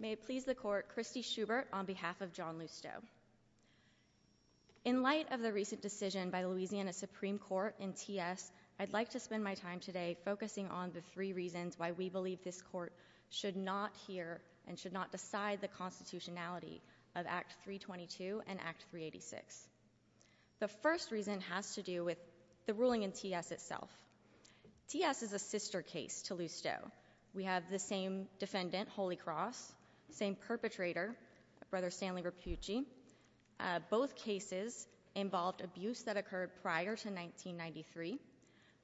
May it please the court, Christy Schubert on behalf of John Lusteau. In light of the recent decision by the Louisiana Supreme Court in TS, I'd like to spend my time today focusing on the three reasons why we believe this court should not hear and should not decide the constitutionality of Act 322 and Act 386. The first reason has to do with the ruling in TS itself. TS is a sister case to Lusteau. We have the same defendant, Holy Cross, same perpetrator, Brother Stanley Rappucci. Both cases involved abuse that occurred prior to 1993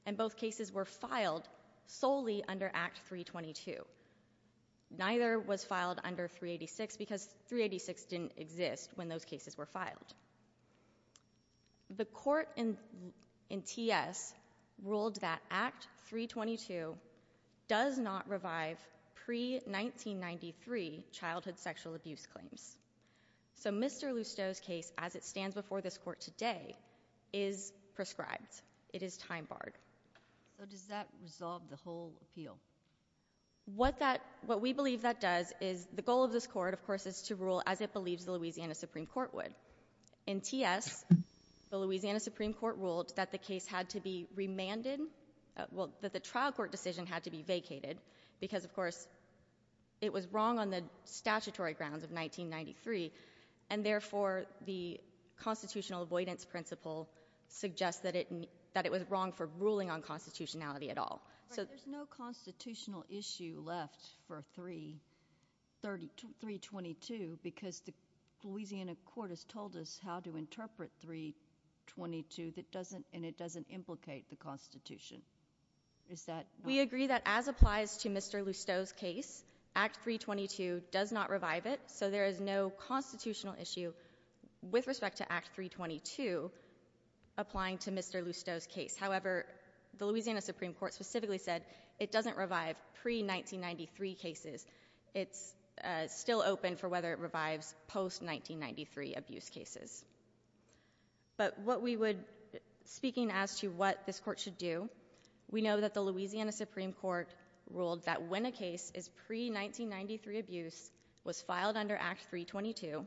and both cases were filed solely under Act 322. Neither was filed under 386 because 386 didn't exist when those cases were filed. The court in TS ruled that Act 322 does not revive pre-1993 childhood sexual abuse claims. So Mr. Lusteau's case, as it stands before this court today, is prescribed. It is time barred. So does that resolve the whole appeal? What we believe that does is the goal of this court, of course, is to rule as it believes the Louisiana Supreme Court would. In TS, the Louisiana Supreme Court ruled that the case had to be remanded, well, that the trial court decision had to be vacated because, of course, it was wrong on the statutory grounds of 1993 and therefore the constitutional avoidance principle suggests that it that it was wrong for ruling on constitutionality at all. So there's no constitutional issue left for 322 because the Louisiana court has told us how to the Constitution. We agree that as applies to Mr. Lusteau's case, Act 322 does not revive it, so there is no constitutional issue with respect to Act 322 applying to Mr. Lusteau's case. However, the Louisiana Supreme Court specifically said it doesn't revive pre-1993 cases. It's still open for whether it revives post-1993 abuse cases. But what we would, speaking as to what this court should do, we know that the Louisiana Supreme Court ruled that when a case is pre-1993 abuse, was filed under Act 322,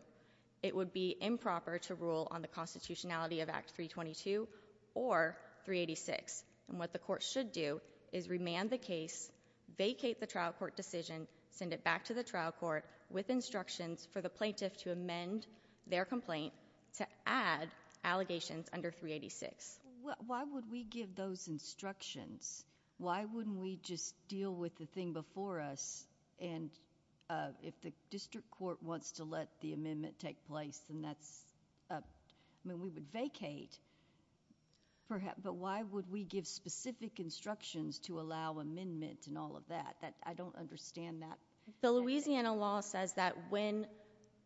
it would be improper to rule on the constitutionality of Act 322 or 386. And what the court should do is remand the case, vacate the trial court decision, send it back to the trial court with instructions for the plaintiff to amend their complaint to add allegations under 386. Why would we give those instructions? Why wouldn't we just deal with the thing before us? And if the district court wants to let the amendment take place, then that's, I mean, we would vacate. But why would we give specific instructions to allow amendment and all of that? I don't understand that. The Louisiana law says that when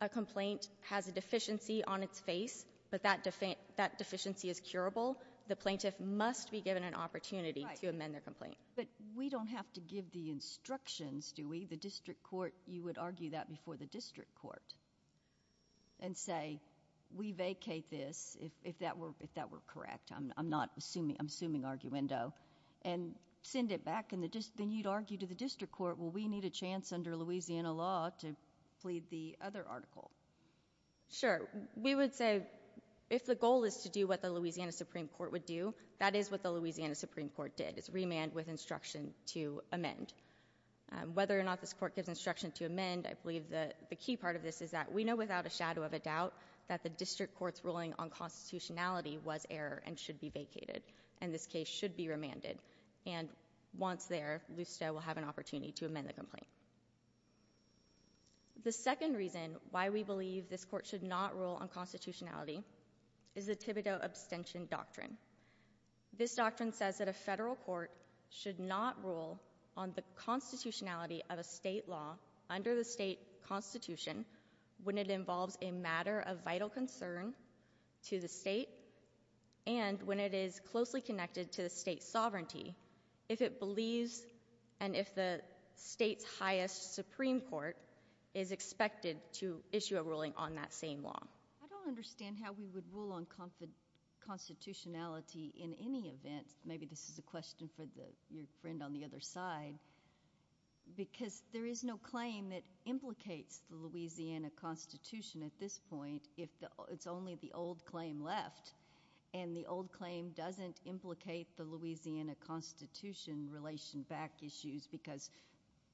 a complaint has a deficiency on its face, but that deficiency is curable, the plaintiff must be given an opportunity to amend their complaint. Right. But we don't have to give the instructions, do we? The district court, you would argue that before the district court and say, we vacate this, if that were correct. I'm not assuming, I'm assuming arguendo. And send it back in the district, then you'd argue to the district court, well, we need a chance under Louisiana law to plead the other article. Sure. We would say, if the goal is to do what the Louisiana Supreme Court would do, that is what the Louisiana Supreme Court did. It's remand with instruction to amend. Whether or not this court gives instruction to amend, I believe that the key part of this is that we know without a shadow of a doubt that the district court's ruling on constitutionality was error and should be vacated. And this case should be remanded. And once there, LUSTA will have an opportunity to amend the complaint. The second reason why we believe this court should not rule on constitutionality is the Thibodeau abstention doctrine. This doctrine says that a federal court should not rule on the constitutionality of a state law under the state constitution when it involves a matter of vital concern to the state and when it is closely connected to the state sovereignty. If it believes and if the state's highest Supreme Court is expected to issue a ruling on that same law. I don't understand how we would rule on constitutionality in any event. Maybe this is a question for your friend on the other side. Because there is no claim that implicates the Louisiana Constitution at this point. It's only the old claim left. And the old claim doesn't implicate the Louisiana Constitution relation back issues because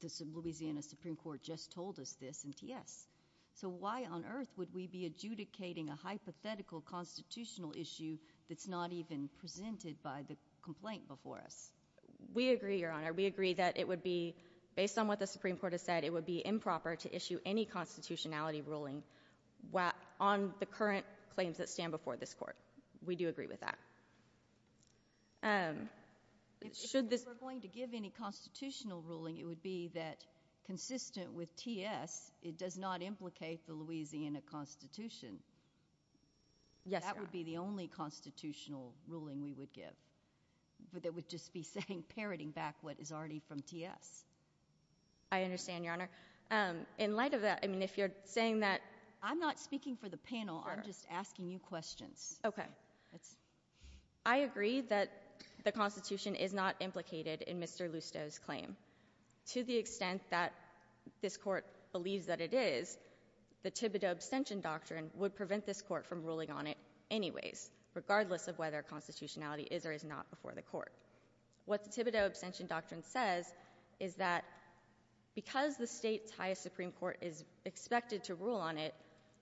the Louisiana Supreme Court just told us this in TS. So why on earth would we be adjudicating a hypothetical constitutional issue that's not even presented by the complaint before us? We agree, Your Honor. We agree that it would be, based on what the Supreme Court has said, it would be improper to issue any constitutionality ruling on the state. If we were going to give any constitutional ruling, it would be that, consistent with TS, it does not implicate the Louisiana Constitution. That would be the only constitutional ruling we would give. But that would just be saying, parroting back what is already from TS. I understand, Your Honor. In light of that, I mean, if you're saying that— I'm not speaking for the panel. I'm just asking you questions. Okay. I agree that the Constitution is not implicated in Mr. Lusto's claim. To the extent that this Court believes that it is, the Thibodeau abstention doctrine would prevent this Court from ruling on it anyways, regardless of whether constitutionality is or is not before the Court. What the Thibodeau abstention doctrine says is that because the state's highest Supreme Court is expected to rule on it,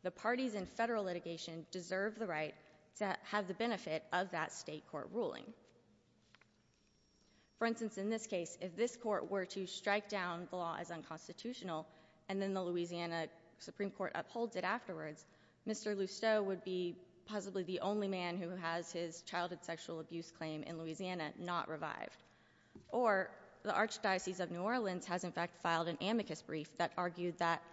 the parties in federal litigation deserve the right to have the benefit of that state court ruling. For instance, in this case, if this Court were to strike down the law as unconstitutional, and then the Louisiana Supreme Court upholds it afterwards, Mr. Lusto would be possibly the only man who has his childhood sexual abuse claim in Louisiana not revived. Or, the Archdiocese of New Orleans has, in fact, filed an amicus brief that argued that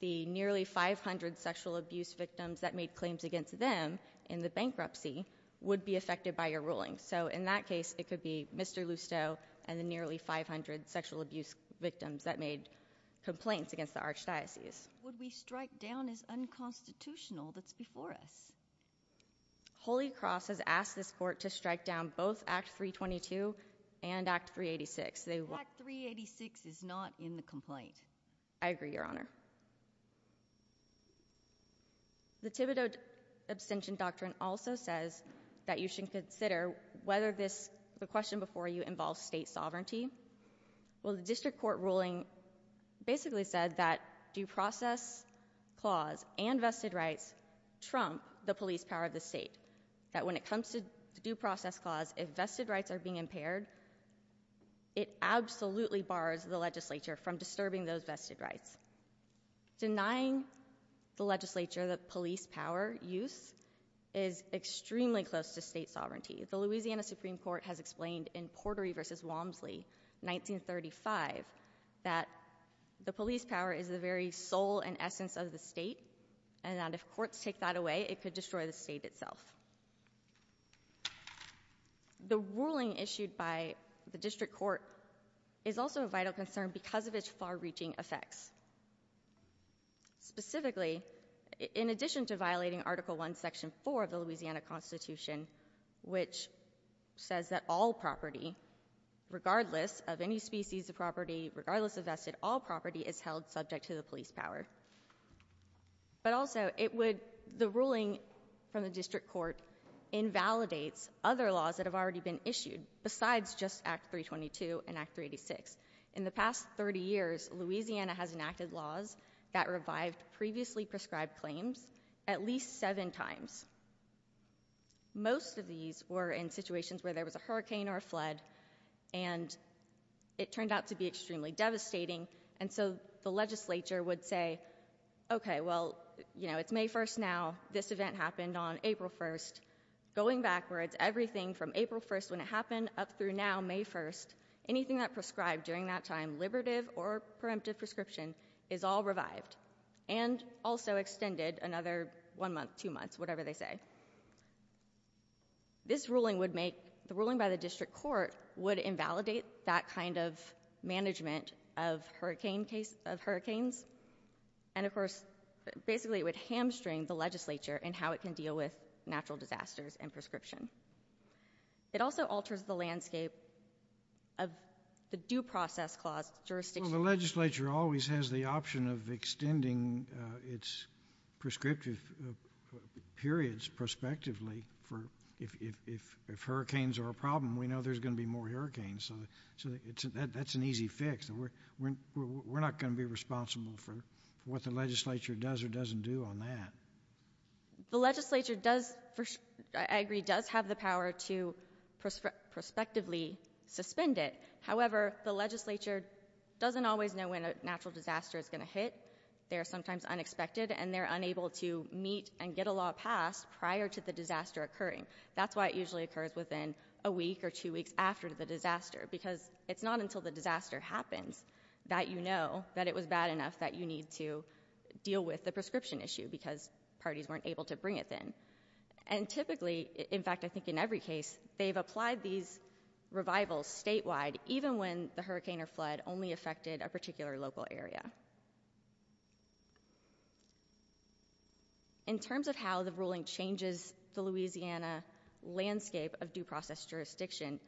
the nearly 500 sexual abuse victims that made claims against them in the bankruptcy would be affected by your ruling. So, in that case, it could be Mr. Lusto and the nearly 500 sexual abuse victims that made complaints against the Archdiocese. Would we strike down as unconstitutional that's before us? Holy Cross has asked this Court to strike down both Act 322 and Act 386. Act 386 is not in the complaint. I agree, Your Honor. The Thibodeau abstention doctrine also says that you should consider whether this—the question before you—involves state sovereignty. Well, the district court ruling basically said that due process clause and vested rights trump the police power of the state. That when it comes to the due process clause, if absolutely bars the legislature from disturbing those vested rights. Denying the legislature the police power use is extremely close to state sovereignty. The Louisiana Supreme Court has explained in Portery v. Walmsley, 1935, that the police power is the very soul and essence of the state, and that if courts take that away, it could destroy the state itself. The ruling issued by the district court is also a vital concern because of its far-reaching effects. Specifically, in addition to violating Article 1, Section 4 of the Louisiana Constitution, which says that all property, regardless of any species of property, regardless of vested, all property is held subject to the police power. But also, it would—the ruling from the district court invalidates other laws that have already been issued, besides just Act 322 and Act 386. In the past 30 years, Louisiana has enacted laws that revived previously prescribed claims at least seven times. Most of these were in situations where there was a hurricane or a flood, and it turned out to be extremely devastating, and so the legislature would say, okay, well, you know, it's May 1st now. This event happened on April 1st. When it happened up through now, May 1st, anything that prescribed during that time, liberative or preemptive prescription, is all revived and also extended another one month, two months, whatever they say. This ruling would make—the ruling by the district court would invalidate that kind of management of hurricane case—of hurricanes, and of course, basically, it would hamstring the legislature in how it can deal with natural disasters and it also alters the landscape of the Due Process Clause jurisdiction. The legislature always has the option of extending its prescriptive periods prospectively for—if hurricanes are a problem, we know there's going to be more hurricanes, so that's an easy fix. We're not going to be responsible for what the legislature does or doesn't do on that. The legislature does—I agree—does have the power to prospectively suspend it. However, the legislature doesn't always know when a natural disaster is going to hit. They are sometimes unexpected, and they're unable to meet and get a law passed prior to the disaster occurring. That's why it usually occurs within a week or two weeks after the disaster, because it's not until the disaster happens that you know that it was bad enough that you need to deal with the prescription issue, because parties weren't able to bring it in. And typically—in fact, I think in every case—they've applied these revivals statewide, even when the hurricane or flood only affected a particular local area. In terms of how the ruling changes the Louisiana landscape of Due Process Jurisdiction,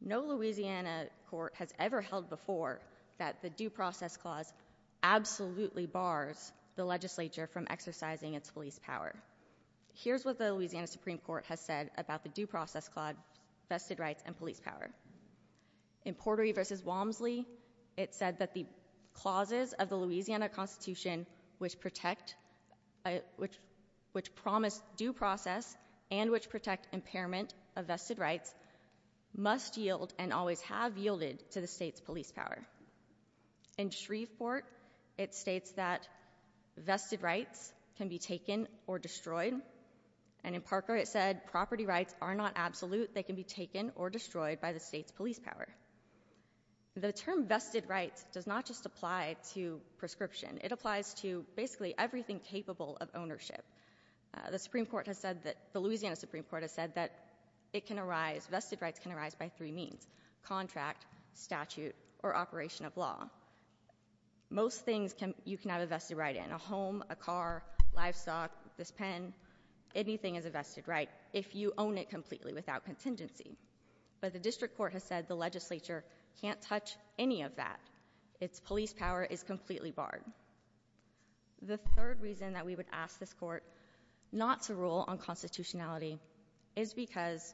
no Louisiana court has ever held before that the Due Process Clause absolutely bars the legislature from exercising its police power. Here's what the Louisiana Supreme Court has said about the Due Process Clause, vested rights, and police power. In Portery v. Walmsley, it said that the clauses of the Louisiana Constitution which protect—which promise due process and which protect impairment of vested rights must yield and always have yielded to the state's police power. In Shreveport, it states that vested rights can be taken or destroyed, and in Parker it said property rights are not absolute. They can be taken or destroyed by the state's police power. The term vested rights does not just apply to prescription. It applies to basically everything capable of ownership. The Supreme Court has said that—the Louisiana Supreme Court has said that it can arise—vested rights can arise from a contract, statute, or operation of law. Most things you can have a vested right in—a home, a car, livestock, this pen—anything is a vested right if you own it completely without contingency. But the district court has said the legislature can't touch any of that. Its police power is completely barred. The third reason that we would ask this court not to rule on constitutionality is because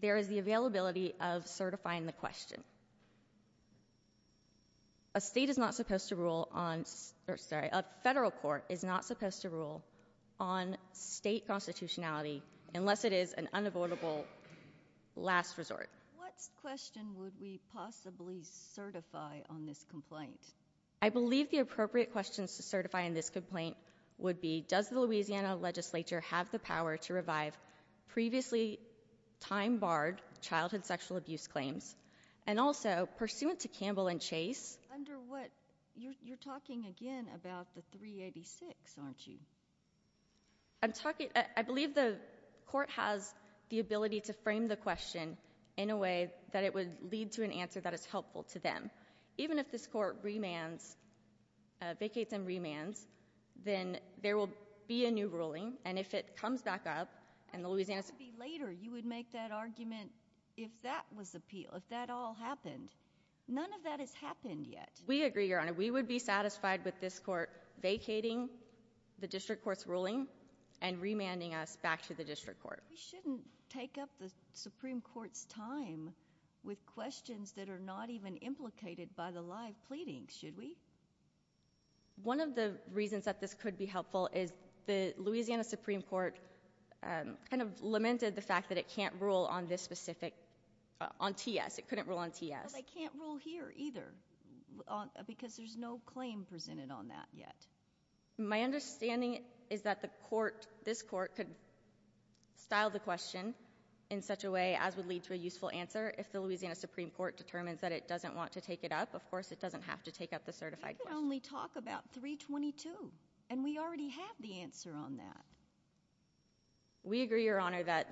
there is the availability of certifying the question. A state is not supposed to rule on—sorry, a federal court is not supposed to rule on state constitutionality unless it is an unavoidable last resort. What question would we possibly certify on this complaint? I believe the appropriate questions to certify in this complaint would be does the Louisiana legislature have the power to revive previously time-barred childhood sexual abuse claims, and also pursuant to Campbell and Chase. Under what—you're talking again about the 386, aren't you? I'm talking—I believe the court has the ability to frame the question in a way that it would lead to an answer that is helpful to them. Even if this court remands—vacates and remands, then there will be a new ruling, and if it comes back up, and the Louisiana— Later, you would make that argument if that was appeal, if that all happened. None of that has happened yet. We agree, Your Honor. We would be satisfied with this court vacating the district court's ruling and remanding us back to the district court. We shouldn't take up the Supreme Court's time with questions that are not even implicated by the live pleadings, should we? One of the reasons that this could be helpful is the Louisiana Supreme Court kind of lamented the fact that it can't rule on this specific—on T.S. It couldn't rule on T.S. It can't rule here either, because there's no claim presented on that yet. My understanding is that the court, this court, could style the question in such a way as would lead to a useful answer if the Louisiana Supreme Court determines that it doesn't want to take it up. Of course, it doesn't have to take up the certified question. We can only talk about 322, and we already have the answer on that. We agree, Your Honor, that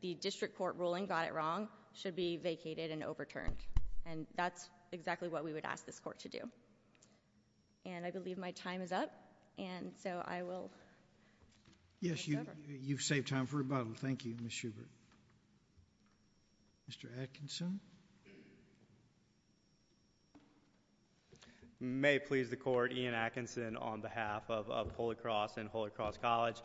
the district court ruling got it wrong, should be vacated and overturned, and that's exactly what we would ask this court to do. And I believe my time is up, and so I will... Yes, you've saved time for rebuttal. Thank you, Ms. Schubert. Mr. Atkinson? May it please the Court, Ian Atkinson on behalf of Holy Cross and Holy Cross College.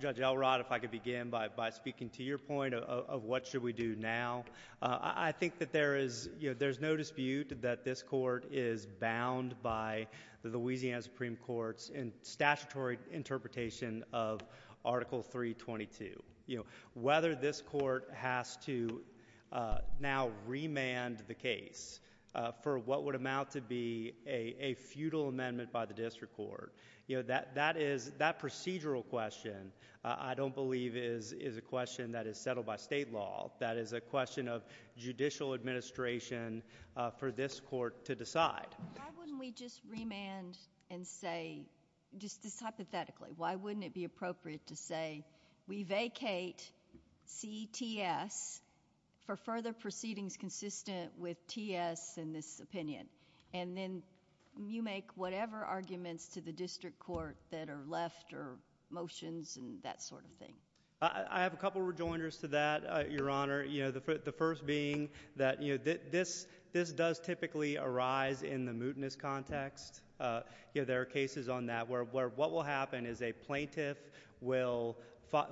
Judge Elrod, if I could begin by speaking to your point of what should we do now. I think that there is, you know, there's no dispute that this court is bound by the Louisiana Supreme Court's statutory interpretation of Article 322. You know, whether this court has to now remand the case for what would amount to be a feudal amendment by the district court, you know, that is... that procedural question I don't believe is a question that is settled by state law. That is a question of judicial administration for this court to decide. Why wouldn't we just remand and say, just hypothetically, why wouldn't it be fair to say, we vacate CTS for further proceedings consistent with TS in this opinion? And then you make whatever arguments to the district court that are left or motions and that sort of thing. I have a couple of rejoinders to that, Your Honor. You know, the first being that, you know, this does typically arise in the mootness context. You know, there are cases on that where what will happen is a plaintiff will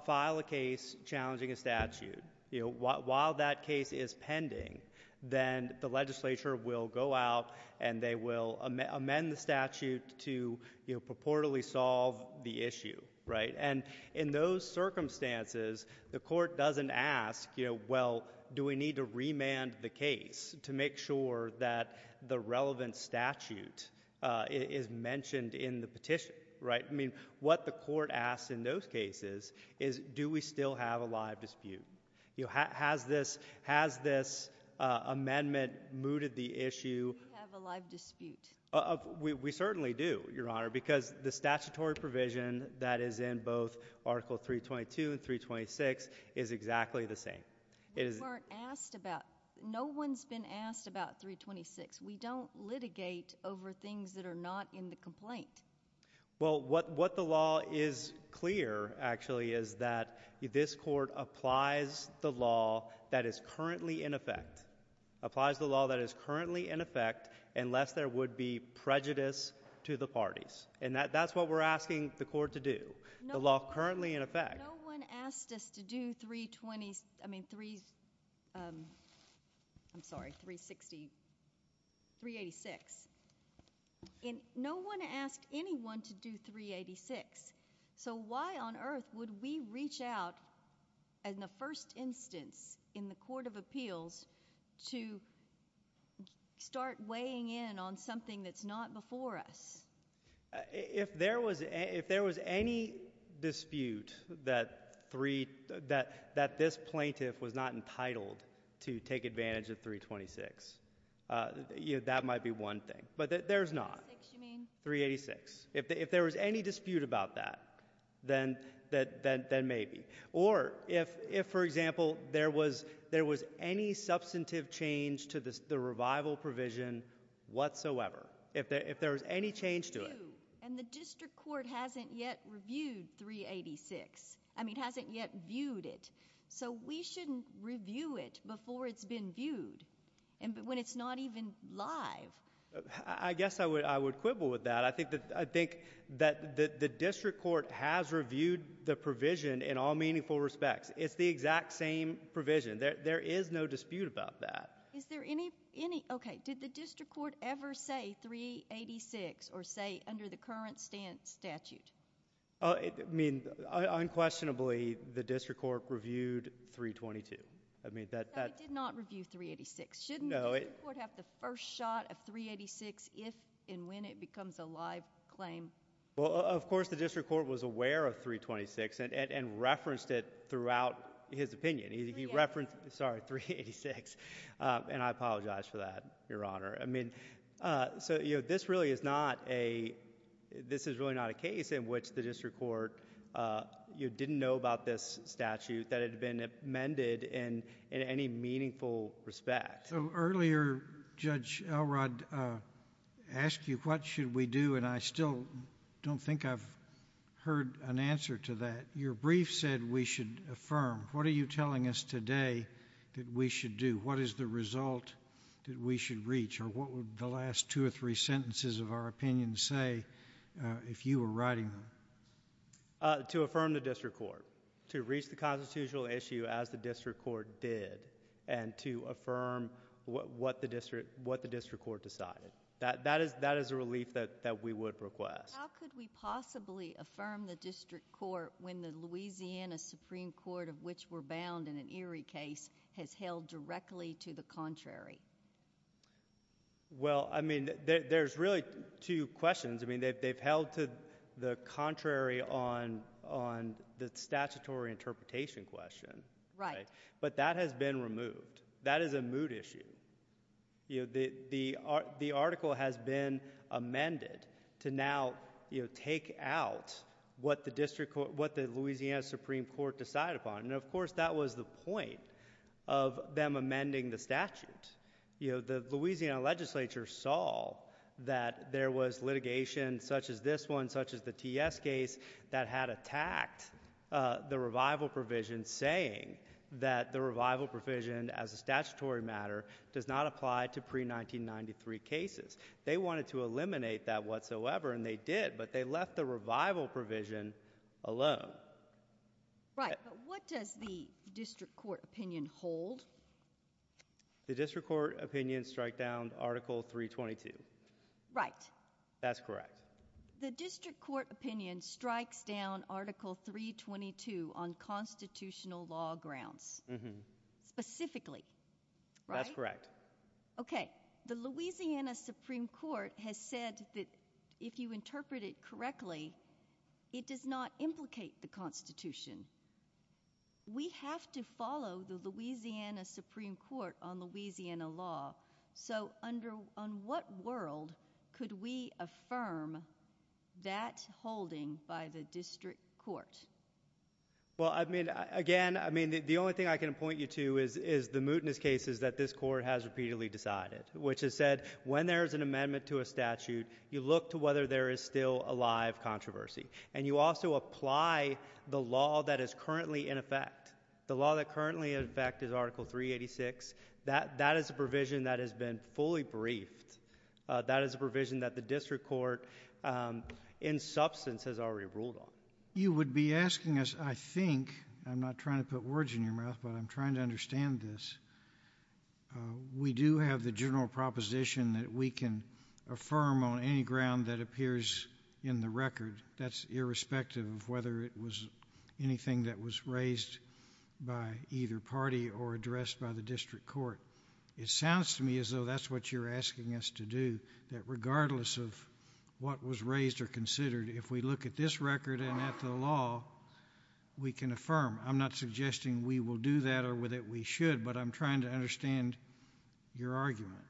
file a case challenging a statute. You know, while that case is pending, then the legislature will go out and they will amend the statute to, you know, purportedly solve the issue, right? And in those circumstances, the court doesn't ask, you know, well, do we need to remand the case to make sure that the relevant statute is mentioned in the petition, right? I mean, what the court asks in those cases is, do we still have a live dispute? You know, has this amendment mooted the issue? We have a live dispute. We certainly do, Your Honor, because the statutory provision that is in both Article 322 and 326 is exactly the same. We weren't asked about, no one's been asked about 326. We don't litigate over things that are not in the complaint. Well, what the law is clear, actually, is that this court applies the law that is currently in effect, applies the law that is currently in effect, unless there would be prejudice to the parties. And that's what we're asking the court to do, the law currently in effect. No one asked us to do 320—I mean, I'm sorry, 360—386. No one asked anyone to do 386. So why on earth would we reach out in the first instance in the Court of Appeals to start weighing in on something that's not before us? If there was any dispute that this plaintiff was not entitled to take advantage of 326, that might be one thing. But there's not. 386, you mean? 386. If there was any dispute about that, then maybe. Or if, for example, there was any substantive change to the revival provision whatsoever, if there was any change to it. And the district court hasn't yet reviewed 386. I mean, hasn't yet viewed it. So we shouldn't review it before it's been viewed, when it's not even live. I guess I would quibble with that. I think that the district court has reviewed the provision in all meaningful respects. It's the exact same provision. There is no dispute about that. Okay. Did the district court ever say 386 or say under the current statute? I mean, unquestionably, the district court reviewed 322. It did not review 386. No. Shouldn't the district court have the first shot of 386 if and when it becomes a live claim? Well, of course the district court was aware of 326 and referenced it throughout his opinion. Sorry, 386. And I apologize for that, Your Honor. So this really is not a case in which the district court didn't know about this statute that had been amended in any meaningful respect. So earlier, Judge Elrod asked you, what should we do? And I still don't think I've heard an answer to that. Your brief said we should affirm. What are you telling us today that we should do? What is the result that we should reach? Or what would the last two or three sentences of our opinion say if you were writing them? To affirm the district court. To reach the constitutional issue as the district court did and to affirm what the district court decided. That is a relief that we would request. How could we possibly affirm the district court when the Louisiana Supreme Court, of which we're bound in an Erie case, has held directly to the contrary? Well, I mean, there's really two questions. I mean, they've held to the contrary on the statutory interpretation question. Right. But that has been removed. That is a mood issue. The article has been amended to now take out what the Louisiana Supreme Court decided upon. And, of course, that was the point of them amending the statute. The Louisiana legislature saw that there was litigation such as this one, such as the TS case, that had attacked the revival provision, and saying that the revival provision as a statutory matter does not apply to pre-1993 cases. They wanted to eliminate that whatsoever, and they did, but they left the revival provision alone. Right. But what does the district court opinion hold? The district court opinion strikes down Article 322. Right. That's correct. The district court opinion strikes down Article 322 on constitutional law grounds. Specifically. Right? That's correct. Okay. The Louisiana Supreme Court has said that if you interpret it correctly, it does not implicate the Constitution. We have to follow the Louisiana Supreme Court on Louisiana law. So on what world could we affirm that holding by the district court? Well, again, the only thing I can point you to is the mootness cases that this court has repeatedly decided, which has said when there is an amendment to a statute, you look to whether there is still a live controversy. And you also apply the law that is currently in effect. The law that is currently in effect is Article 386. That is a provision that has been fully briefed. That is a provision that the district court in substance has already ruled on. You would be asking us, I think, I'm not trying to put words in your mouth, but I'm trying to understand this. We do have the general proposition that we can affirm on any ground that appears in the record. That's irrespective of whether it was anything that was raised by either party or addressed by the district court. It sounds to me as though that's what you're asking us to do, that regardless of what was raised or considered, if we look at this record and at the law, we can affirm. I'm not suggesting we will do that or that we should, but I'm trying to understand your argument.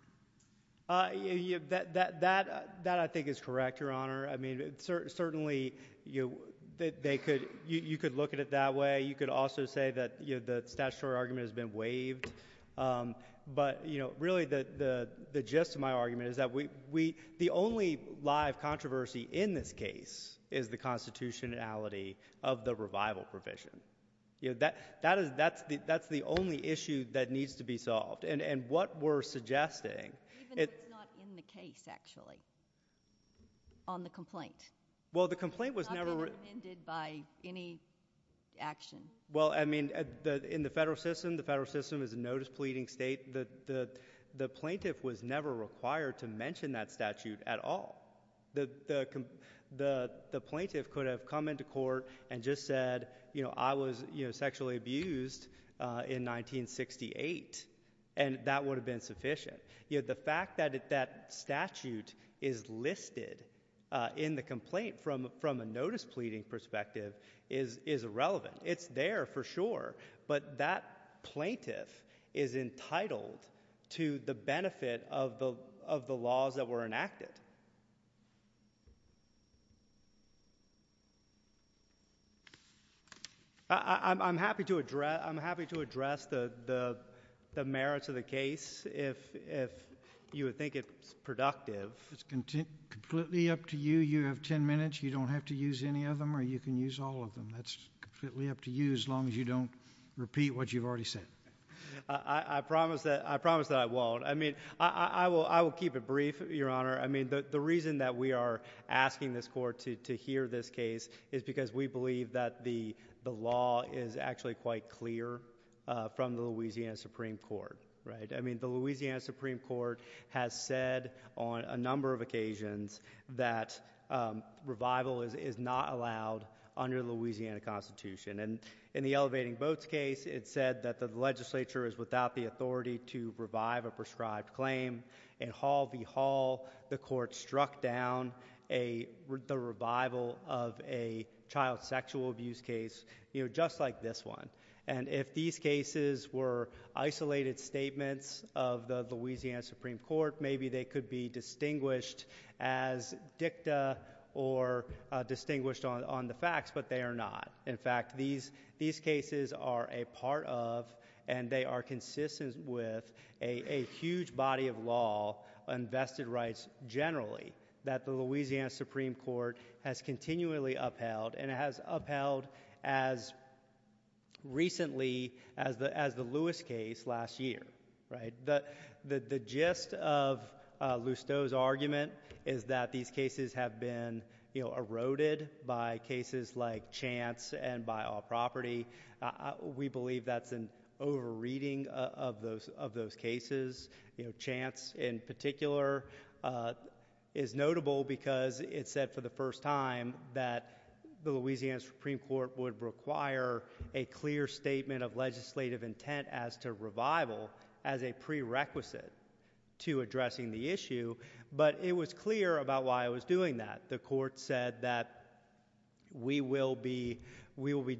That I think is correct, Your Honor. Certainly you could look at it that way. You could also say that the statutory argument has been waived. But really the gist of my argument is that the only live controversy in this case is the constitutionality of the revival provision. That's the only issue that needs to be solved. Even if it's not in the case, actually, on the complaint. It's not been amended by any action. In the federal system, the federal system is a notice pleading state. The plaintiff was never required to mention that statute at all. The plaintiff could have come into court and just said, I was sexually abused in 1968. And that would have been sufficient. The fact that that statute is listed in the complaint from a notice pleading perspective is irrelevant. It's there for sure. But that plaintiff is entitled to the benefit of the laws that were enacted. I'm happy to address the merits of the case if you would think it's productive. It's completely up to you. You have ten minutes. You don't have to use any of them or you can use all of them. That's completely up to you as long as you don't repeat what you've already said. I promise that I won't. I will keep it brief, Your Honor. The reason that we are asking this court to hear this case is because we believe that the law is actually quite clear from the Louisiana Supreme Court. The Louisiana Supreme Court has said on a number of occasions that revival is not allowed under the Louisiana Constitution. In the Elevating Votes case, it said that the legislature is without the authority to revive a prescribed claim. In Hall v. Hall, the court struck down the revival of a child sexual abuse case just like this one. If these cases were isolated statements of the Louisiana Supreme Court, maybe they could be distinguished as dicta or distinguished on the facts, but they are not. In fact, these cases are a part of and they are consistent with a huge body of law, unvested rights generally, that the Louisiana Supreme Court has continually upheld and has upheld as recently as the Lewis case last year. The gist of Lusteau's argument is that these cases have been eroded by cases like Chance and by All Property. We believe that's an over-reading of those cases. Chance, in particular, is notable because it said for the first time that the Louisiana Supreme Court would require a clear statement of legislative intent as to revival as a prerequisite to addressing the issue, but it was clear about why it was doing that. The court said that we will be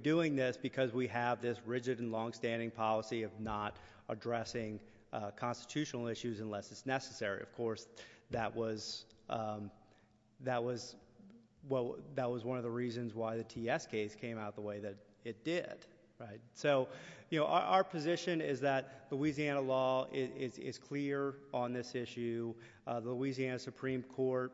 doing this because we have this rigid and longstanding policy of not addressing constitutional issues unless it's necessary. Of course, that was one of the reasons why the T.S. case came out the way that it did. Our position is that Louisiana law is clear on this issue. The Louisiana Supreme Court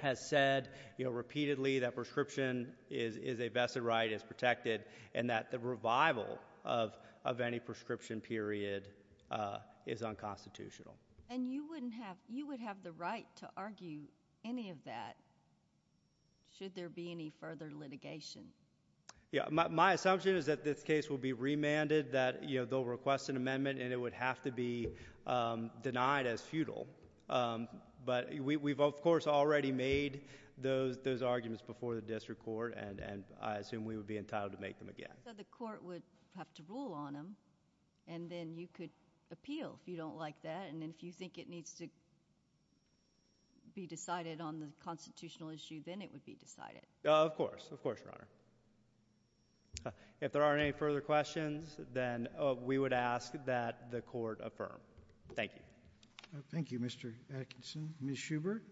has said repeatedly that prescription is a vested right, is protected, and that the revival of any prescription period is unconstitutional. And you would have the right to argue any of that should there be any further litigation. My assumption is that this case will be remanded, that they'll request an amendment, and it would have to be denied as futile. But we've, of course, already made those arguments before the district court, and I assume we would be entitled to make them again. So the court would have to rule on them, and then you could appeal if you don't like that. And if you think it needs to be decided on the constitutional issue, then it would be decided. Of course, of course, Your Honor. If there aren't any further questions, then we would ask that the court affirm. Thank you. Thank you, Mr. Atkinson. Ms. Schubert,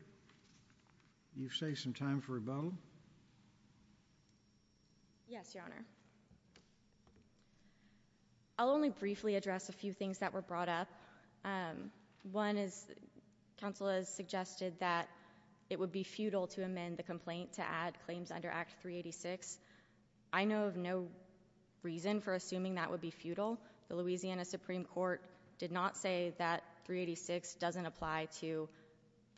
you've saved some time for rebuttal. Yes, Your Honor. I'll only briefly address a few things that were brought up. One is counsel has suggested that it would be futile to amend the complaint to add claims under Act 386. I know of no reason for assuming that would be futile. The Louisiana Supreme Court did not say that 386 doesn't apply to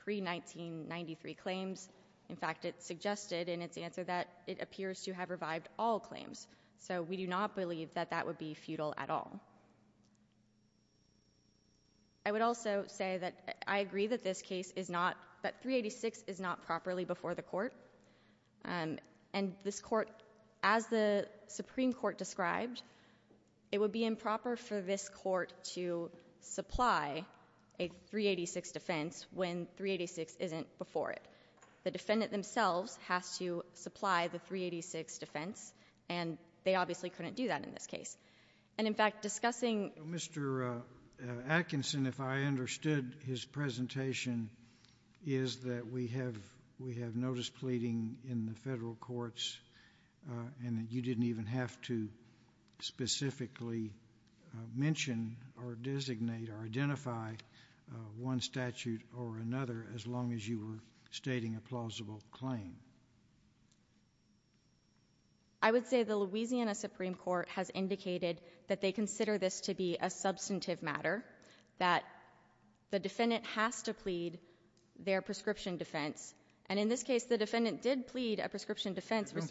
pre-1993 claims. In fact, it suggested in its answer that it appears to have revived all claims. So we do not believe that that would be futile at all. I would also say that I agree that this case is not, that 386 is not properly before the court. And this court, as the Supreme Court described, it would be improper for this court to supply a 386 defense when 386 isn't before it. The defendant themselves has to supply the 386 defense. And they obviously couldn't do that in this case. And, in fact, discussing Mr. Atkinson, if I understood his presentation, is that we have notice pleading in the federal courts and that you didn't even have to specifically mention or designate or identify one statute or another as long as you were stating a plausible claim. I would say the Louisiana Supreme Court has indicated that they consider this to be a substantive matter, that the defendant has to plead their prescription defense. And in this case, the defendant did plead a prescription defense. I don't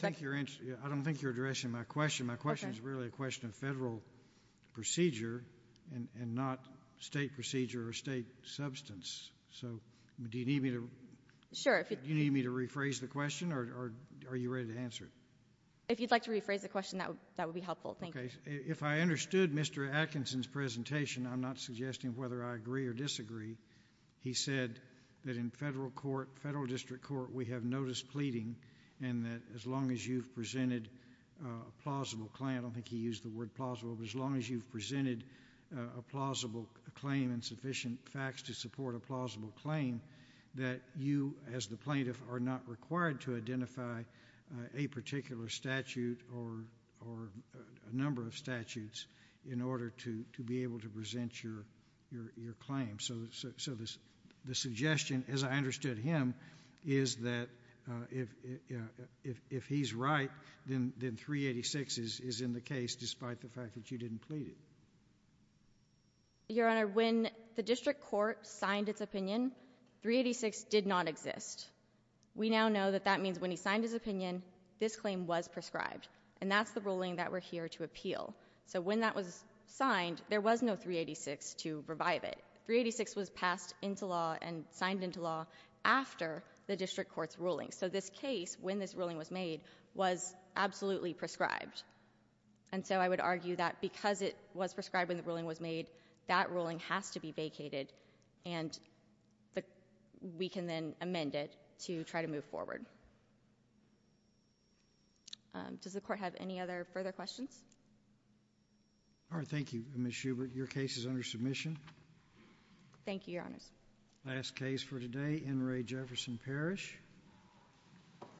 think you're addressing my question. My question is really a question of federal procedure and not State procedure or State substance. So do you need me to rephrase the question, or are you ready to answer it? If you'd like to rephrase the question, that would be helpful. Thank you. If I understood Mr. Atkinson's presentation, I'm not suggesting whether I agree or disagree. He said that in federal court, federal district court, we have notice pleading and that as long as you've presented a plausible claim, I don't think he used the word plausible, but as long as you've presented a plausible claim and sufficient facts to support a plausible claim, that you, as the plaintiff, are not required to identify a particular statute or a number of statutes in order to be able to present your claim. So the suggestion, as I understood him, is that if he's right, then 386 is in the case despite the fact that you didn't plead it. Your Honor, when the district court signed its opinion, 386 did not exist. We now know that that means when he signed his opinion, this claim was prescribed, and that's the ruling that we're here to appeal. So when that was signed, there was no 386 to revive it. 386 was passed into law and signed into law after the district court's ruling. So this case, when this ruling was made, was absolutely prescribed. And so I would argue that because it was prescribed when the ruling was made, that ruling has to be vacated, and we can then amend it to try to move forward. Does the Court have any other further questions? All right. Thank you, Ms. Schubert. Your case is under submission. Thank you, Your Honor. Last case for today, N. Ray Jefferson Parish.